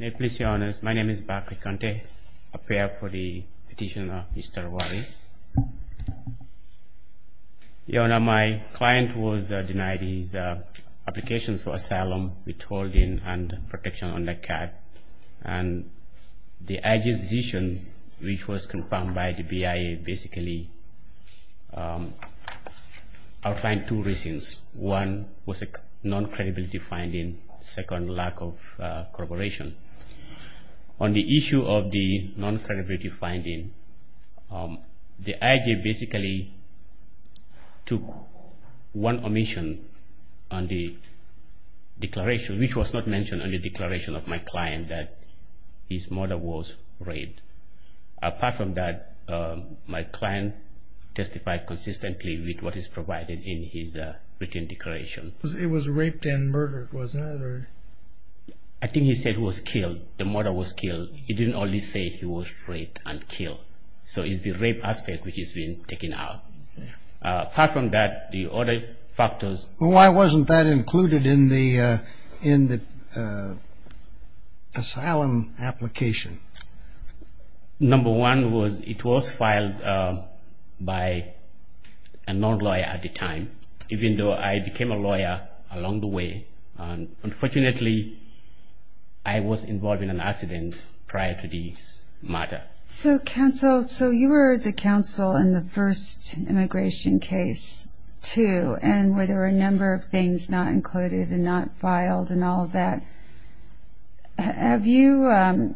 My name is Bakri Kante, a payor for the petitioner, Mr. Rwaril. Your Honor, my client was denied his applications for asylum with holding and protection under CAD. And the IG's decision, which was confirmed by the BIA, basically outlined two reasons. One was a non-credibility finding. Second, lack of corroboration. On the issue of the non-credibility finding, the IG basically took one omission on the declaration, which was not mentioned on the declaration of my client that his mother was raped. Apart from that, my client testified consistently with what is provided in his written declaration. It was raped and murdered, wasn't it? I think he said he was killed, the mother was killed. He didn't only say he was raped and killed. So it's the rape aspect which has been taken out. Apart from that, the other factors. Well, why wasn't that included in the asylum application? Number one was it was filed by a non-lawyer at the time, even though I became a lawyer along the way. Unfortunately, I was involved in an accident prior to this matter. So, counsel, so you were the counsel in the first immigration case, too, and where there were a number of things not included and not filed and all of that. Have you ‑‑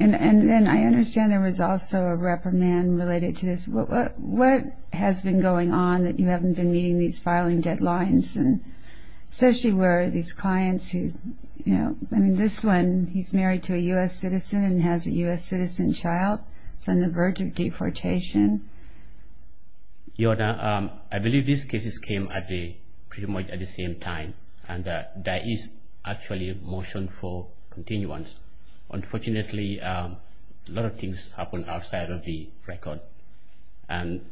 and I understand there was also a reprimand related to this. What has been going on that you haven't been meeting these filing deadlines, especially where these clients who, you know, I mean, this one, he's married to a U.S. citizen and has a U.S. citizen child. He's on the verge of deportation. Your Honor, I believe these cases came pretty much at the same time, and there is actually a motion for continuance. Unfortunately, a lot of things happened outside of the record, and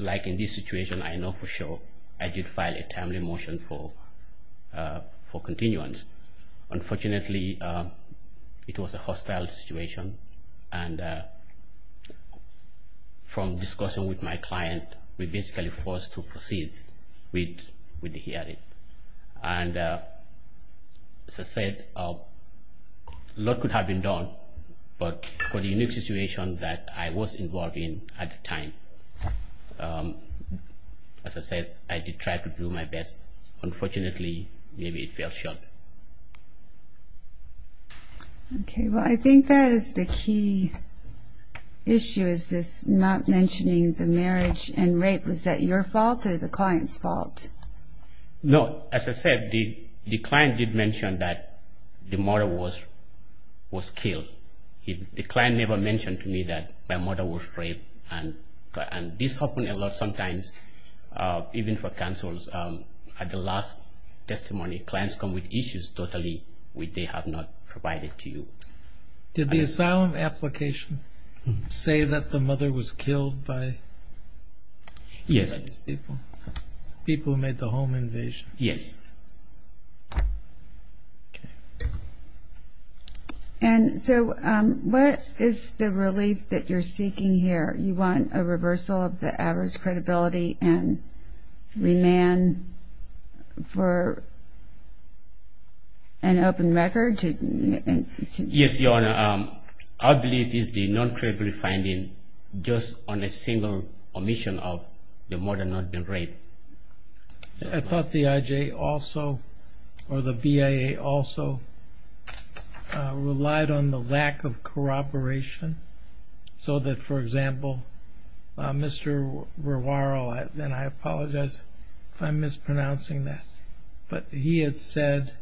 like in this situation, I know for sure I did file a timely motion for continuance. Unfortunately, it was a hostile situation, and from discussion with my client, we basically forced to proceed with the hearing. And as I said, a lot could have been done, but for the unique situation that I was involved in at the time, as I said, I did try to do my best. Unfortunately, maybe it fell short. Okay. Well, I think that is the key issue is this not mentioning the marriage and rape. Was that your fault or the client's fault? No. As I said, the client did mention that the mother was killed. The client never mentioned to me that my mother was raped, and this happened a lot sometimes, even for counsels. At the last testimony, clients come with issues totally which they have not provided to you. Did the asylum application say that the mother was killed by these people? Yes. People who made the home invasion? Yes. Okay. And so what is the relief that you're seeking here? You want a reversal of the average credibility and remand for an open record? Yes, Your Honor. Our belief is the non-credible finding just on a single omission of the mother not being raped. I thought the IJ also, or the BIA also, relied on the lack of corroboration so that, for example, Mr. Rewaral, and I apologize if I'm mispronouncing that, but he had said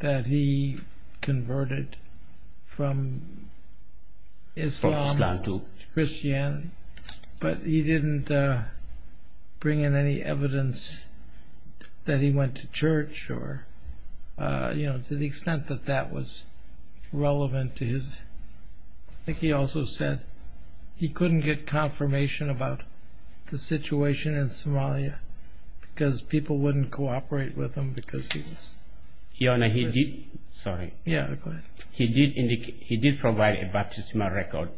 that he converted from Islam to Christianity, but he didn't bring in any evidence that he went to church or, you know, to the extent that that was relevant to his. I think he also said he couldn't get confirmation about the situation in Somalia because people wouldn't cooperate with him because he was. Your Honor, he did. Sorry. Yeah, go ahead. He did provide a baptismal record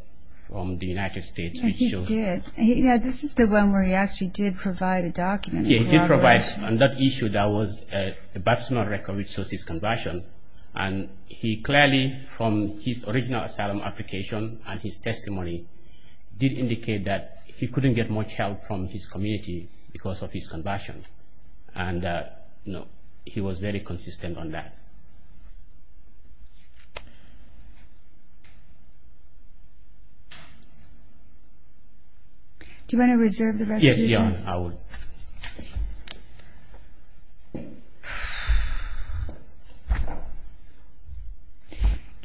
from the United States. Yeah, he did. Yeah, this is the one where he actually did provide a document. Yeah, he did provide on that issue that was a baptismal record which shows his conversion, and he clearly, from his original asylum application and his testimony, did indicate that he couldn't get much help from his community because of his conversion, and he was very consistent on that. Do you want to reserve the rest of your time? Yeah, I would.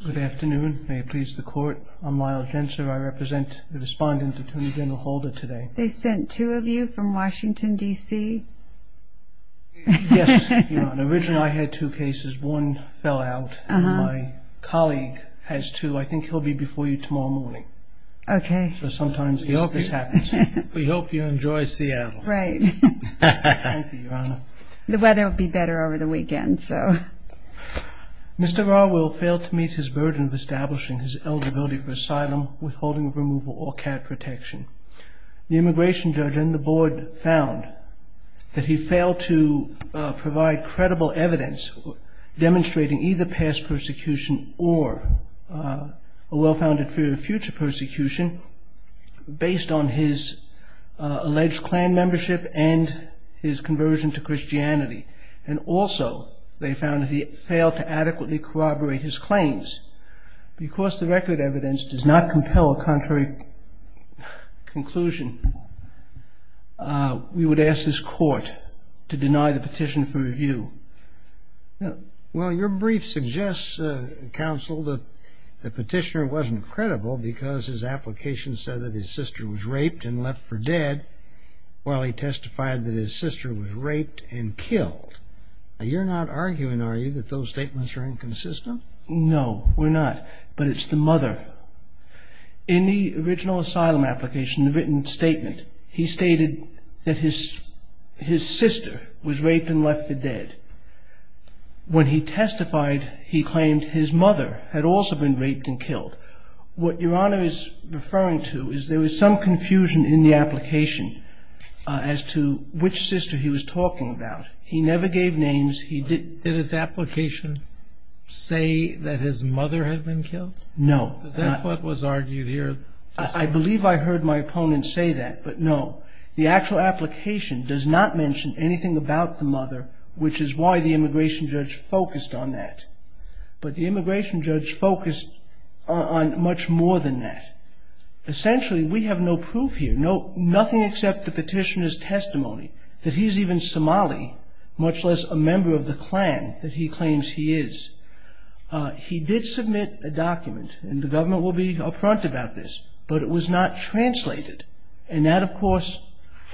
Good afternoon. May it please the Court. I'm Lyle Gensler. I represent the respondent, Attorney General Holder, today. They sent two of you from Washington, D.C.? Yes, Your Honor. Originally I had two cases. One fell out. My colleague has two. I think he'll be before you tomorrow morning. Okay. Sometimes the office happens. We hope you enjoy Seattle. Right. Thank you, Your Honor. The weather will be better over the weekend, so. Mr. Garwell failed to meet his burden of establishing his eligibility for asylum, withholding of removal, or care protection. The immigration judge and the board found that he failed to provide credible evidence demonstrating either past persecution or a well-founded fear of future persecution based on his alleged Klan membership and his conversion to Christianity. And also they found that he failed to adequately corroborate his claims. Because the record evidence does not compel a contrary conclusion, we would ask this Court to deny the petition for review. Well, your brief suggests, Counsel, that the petitioner wasn't credible because his application said that his sister was raped and left for dead while he testified that his sister was raped and killed. You're not arguing, are you, that those statements are inconsistent? No, we're not. But it's the mother. In the original asylum application, the written statement, he stated that his sister was raped and left for dead. When he testified, he claimed his mother had also been raped and killed. What your Honor is referring to is there was some confusion in the application as to which sister he was talking about. He never gave names. Did his application say that his mother had been killed? No. That's what was argued here. I believe I heard my opponent say that, but no. The actual application does not mention anything about the mother, which is why the immigration judge focused on that. But the immigration judge focused on much more than that. Essentially, we have no proof here, nothing except the petitioner's testimony, that he's even Somali, much less a member of the clan that he claims he is. He did submit a document, and the government will be up front about this, but it was not translated. And that, of course,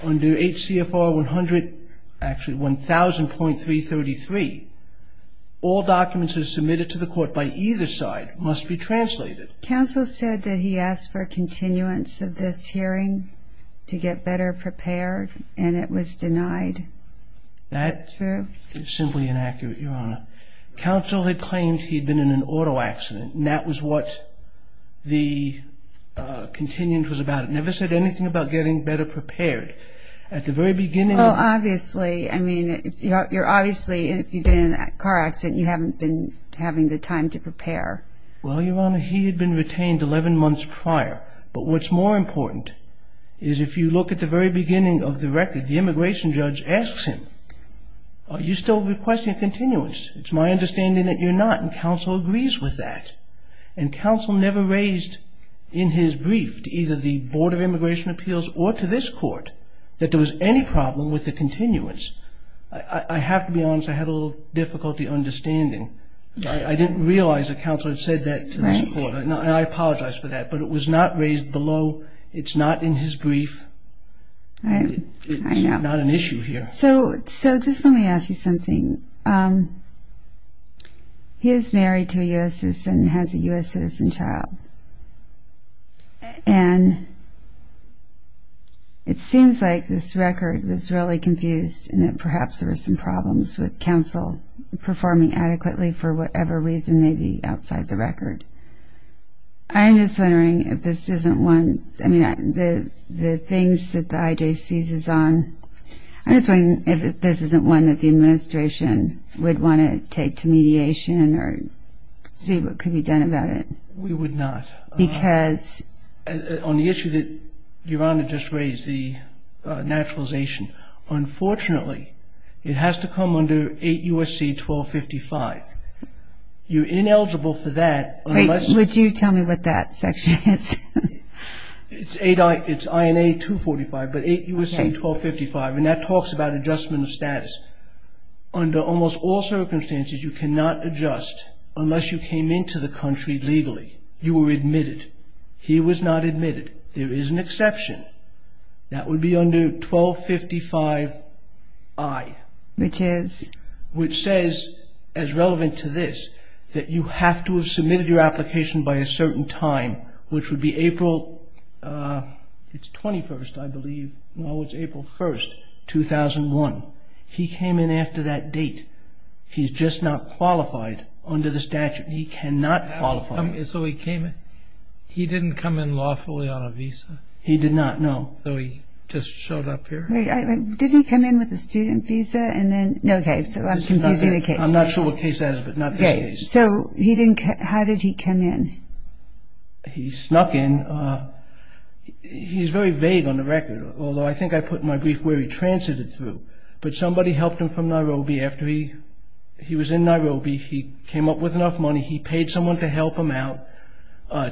under HCFR 100, actually 1000.333, all documents that are submitted to the court by either side must be translated. Counsel said that he asked for a continuance of this hearing to get better prepared, and it was denied. That is simply inaccurate, Your Honor. Counsel had claimed he had been in an auto accident, and that was what the continuance was about. It never said anything about getting better prepared. Well, obviously. I mean, you're obviously, if you've been in a car accident, you haven't been having the time to prepare. Well, Your Honor, he had been retained 11 months prior. But what's more important is if you look at the very beginning of the record, the immigration judge asks him, are you still requesting a continuance? It's my understanding that you're not, and counsel agrees with that. And counsel never raised in his brief to either the Board of Immigration Appeals or to this court that there was any problem with the continuance. I have to be honest, I had a little difficulty understanding. I didn't realize that counsel had said that to this court, and I apologize for that. But it was not raised below. It's not in his brief. It's not an issue here. So just let me ask you something. He is married to a U.S. citizen and has a U.S. citizen child. And it seems like this record was really confused and that perhaps there were some problems with counsel performing adequately for whatever reason may be outside the record. I'm just wondering if this isn't one of the things that the IJC is on. I'm just wondering if this isn't one that the administration would want to take to mediation or see what could be done about it. We would not. Because? On the issue that Your Honor just raised, the naturalization, unfortunately it has to come under 8 U.S.C. 1255. You're ineligible for that. Would you tell me what that section is? It's INA 245, but 8 U.S.C. 1255, and that talks about adjustment of status. Under almost all circumstances, you cannot adjust unless you came into the country legally. You were admitted. He was not admitted. There is an exception. That would be under 1255I. Which is? Which says, as relevant to this, that you have to have submitted your application by a certain time, which would be April, it's 21st, I believe. No, it's April 1st, 2001. He came in after that date. He's just not qualified under the statute. He cannot qualify. So he came in? He didn't come in lawfully on a visa? He did not, no. So he just showed up here? Wait, didn't he come in with a student visa and then? Okay, so I'm confusing the case. I'm not sure what case that is, but not this case. Okay, so how did he come in? He snuck in. He's very vague on the record, although I think I put in my brief where he transited through. But somebody helped him from Nairobi. After he was in Nairobi, he came up with enough money. He paid someone to help him out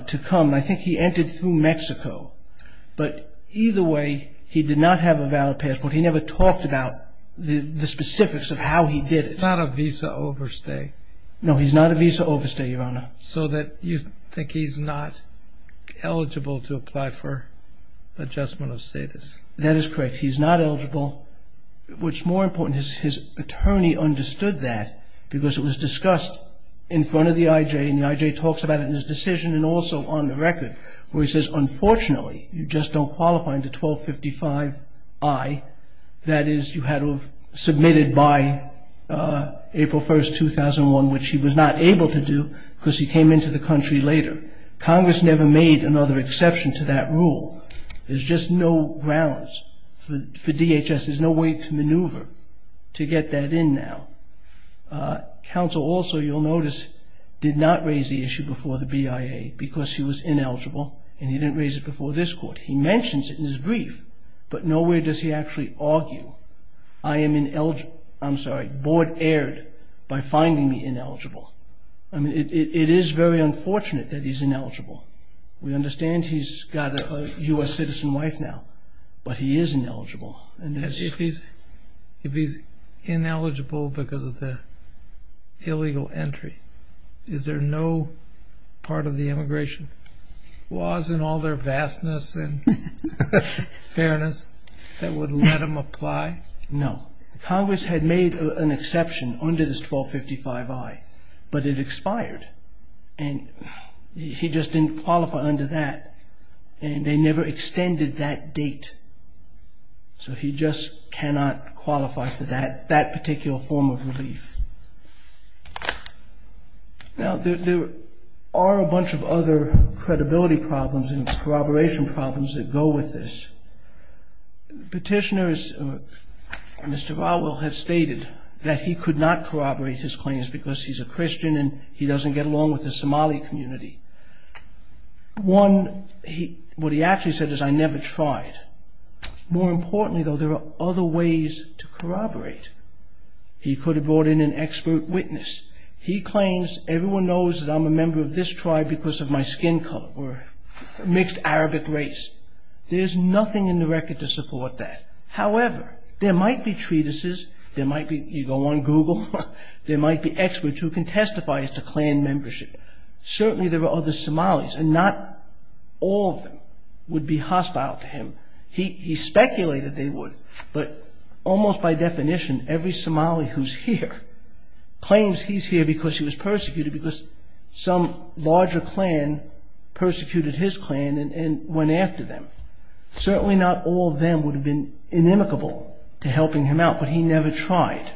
to come. I think he entered through Mexico. But either way, he did not have a valid passport. He never talked about the specifics of how he did it. He's not a visa overstay? No, he's not a visa overstay, Your Honor. So you think he's not eligible to apply for adjustment of status? That is correct. He's not eligible, which more important, his attorney understood that because it was discussed in front of the I.J. and the I.J. talks about it in his decision and also on the record, where he says, unfortunately, you just don't qualify under 1255I. That is, you had to have submitted by April 1, 2001, which he was not able to do because he came into the country later. Congress never made another exception to that rule. There's just no grounds for DHS. There's no way to maneuver to get that in now. Counsel also, you'll notice, did not raise the issue before the BIA because he was ineligible and he didn't raise it before this court. He mentions it in his brief, but nowhere does he actually argue. I am ineligible. I'm sorry, board erred by finding me ineligible. It is very unfortunate that he's ineligible. We understand he's got a U.S. citizen wife now, but he is ineligible. If he's ineligible because of the illegal entry, is there no part of the immigration laws in all their vastness and fairness that would let him apply? No. Congress had made an exception under this 1255I, but it expired, and he just didn't qualify under that, and they never extended that date. So he just cannot qualify for that particular form of relief. Now there are a bunch of other credibility problems and corroboration problems that go with this. Petitioners, Mr. Vowell has stated that he could not corroborate his claims because he's a Christian and he doesn't get along with the Somali community. One, what he actually said is, I never tried. More importantly, though, there are other ways to corroborate. He could have brought in an expert witness. He claims everyone knows that I'm a member of this tribe because of my skin color or mixed Arabic race. There's nothing in the record to support that. However, there might be treatises. You go on Google. There might be experts who can testify as to clan membership. Certainly there are other Somalis, and not all of them would be hostile to him. He speculated they would, but almost by definition, every Somali who's here claims he's here because he was persecuted because some larger clan persecuted his clan and went after them. Certainly not all of them would have been inimicable to helping him out, but he never tried.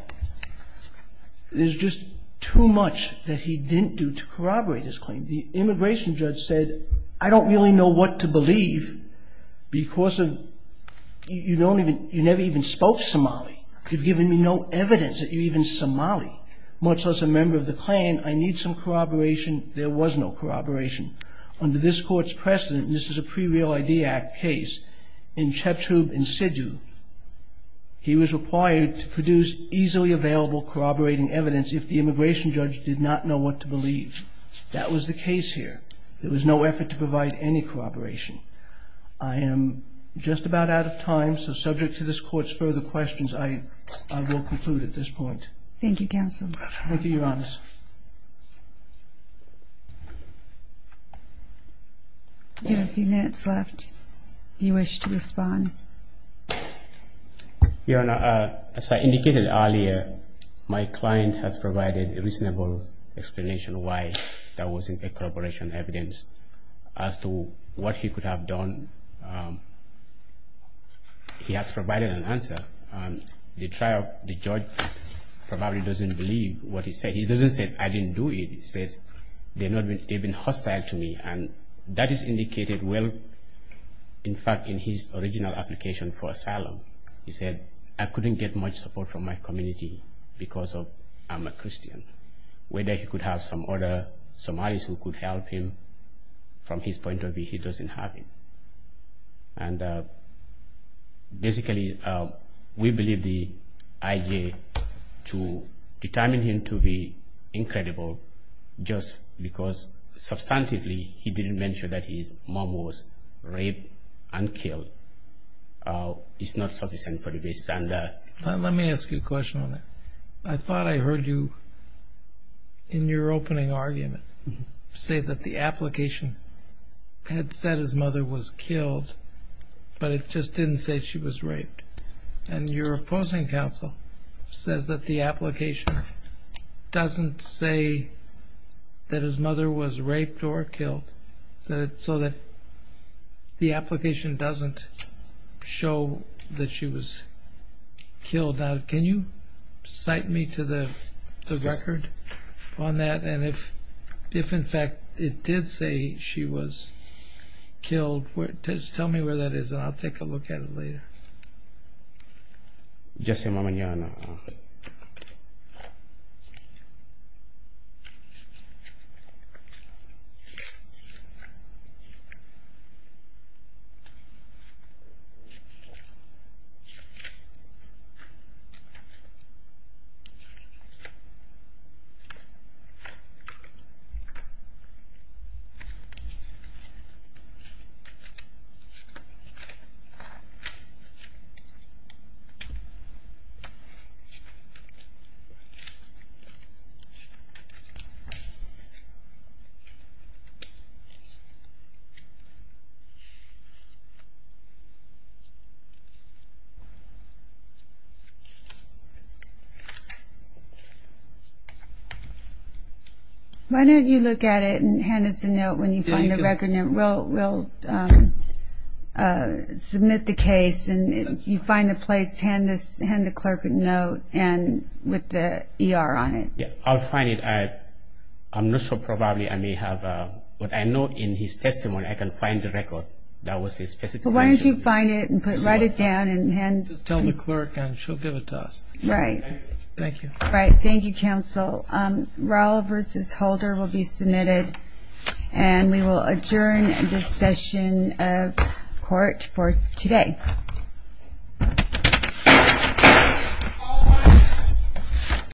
There's just too much that he didn't do to corroborate his claim. The immigration judge said, I don't really know what to believe because you never even spoke Somali. You've given me no evidence that you're even Somali, much less a member of the clan. I need some corroboration. There was no corroboration. Under this court's precedent, and this is a pre-Real ID Act case, in Chetub Insidu, he was required to produce easily available corroborating evidence if the immigration judge did not know what to believe. That was the case here. There was no effort to provide any corroboration. I am just about out of time, so subject to this court's further questions, I will conclude at this point. Thank you, Counsel. Thank you, Your Honor. We have a few minutes left. If you wish to respond. Your Honor, as I indicated earlier, my client has provided a reasonable explanation why there wasn't a corroboration evidence. As to what he could have done, he has provided an answer. The trial, the judge probably doesn't believe what he said. He doesn't say, I didn't do it. He says, they've been hostile to me, and that is indicated well, in fact, in his original application for asylum. He said, I couldn't get much support from my community because I'm a Christian. Whether he could have some other Somalis who could help him, from his point of view, he doesn't have it. And basically, we believe the IJ to determine him to be incredible, just because substantively he didn't mention that his mom was raped and killed, is not sufficient for the basis. Let me ask you a question on that. I thought I heard you, in your opening argument, say that the application had said his mother was killed, but it just didn't say she was raped. And your opposing counsel says that the application doesn't say that his mother was raped or killed, so that the application doesn't show that she was killed. Now, can you cite me to the record on that? And if, in fact, it did say she was killed, just tell me where that is, and I'll take a look at it later. Yes, ma'am. Okay. Why don't you look at it and hand us a note when you find the record. We'll submit the case, and if you find the place, hand the clerk a note with the ER on it. Yeah, I'll find it. I'm not so probably I may have, but I know in his testimony I can find the record. That was his specification. Why don't you find it and write it down and hand it to me. Just tell the clerk, and she'll give it to us. Right. Thank you. Thank you, counsel. Raul v. Holder will be submitted, and we will adjourn this session of court for today.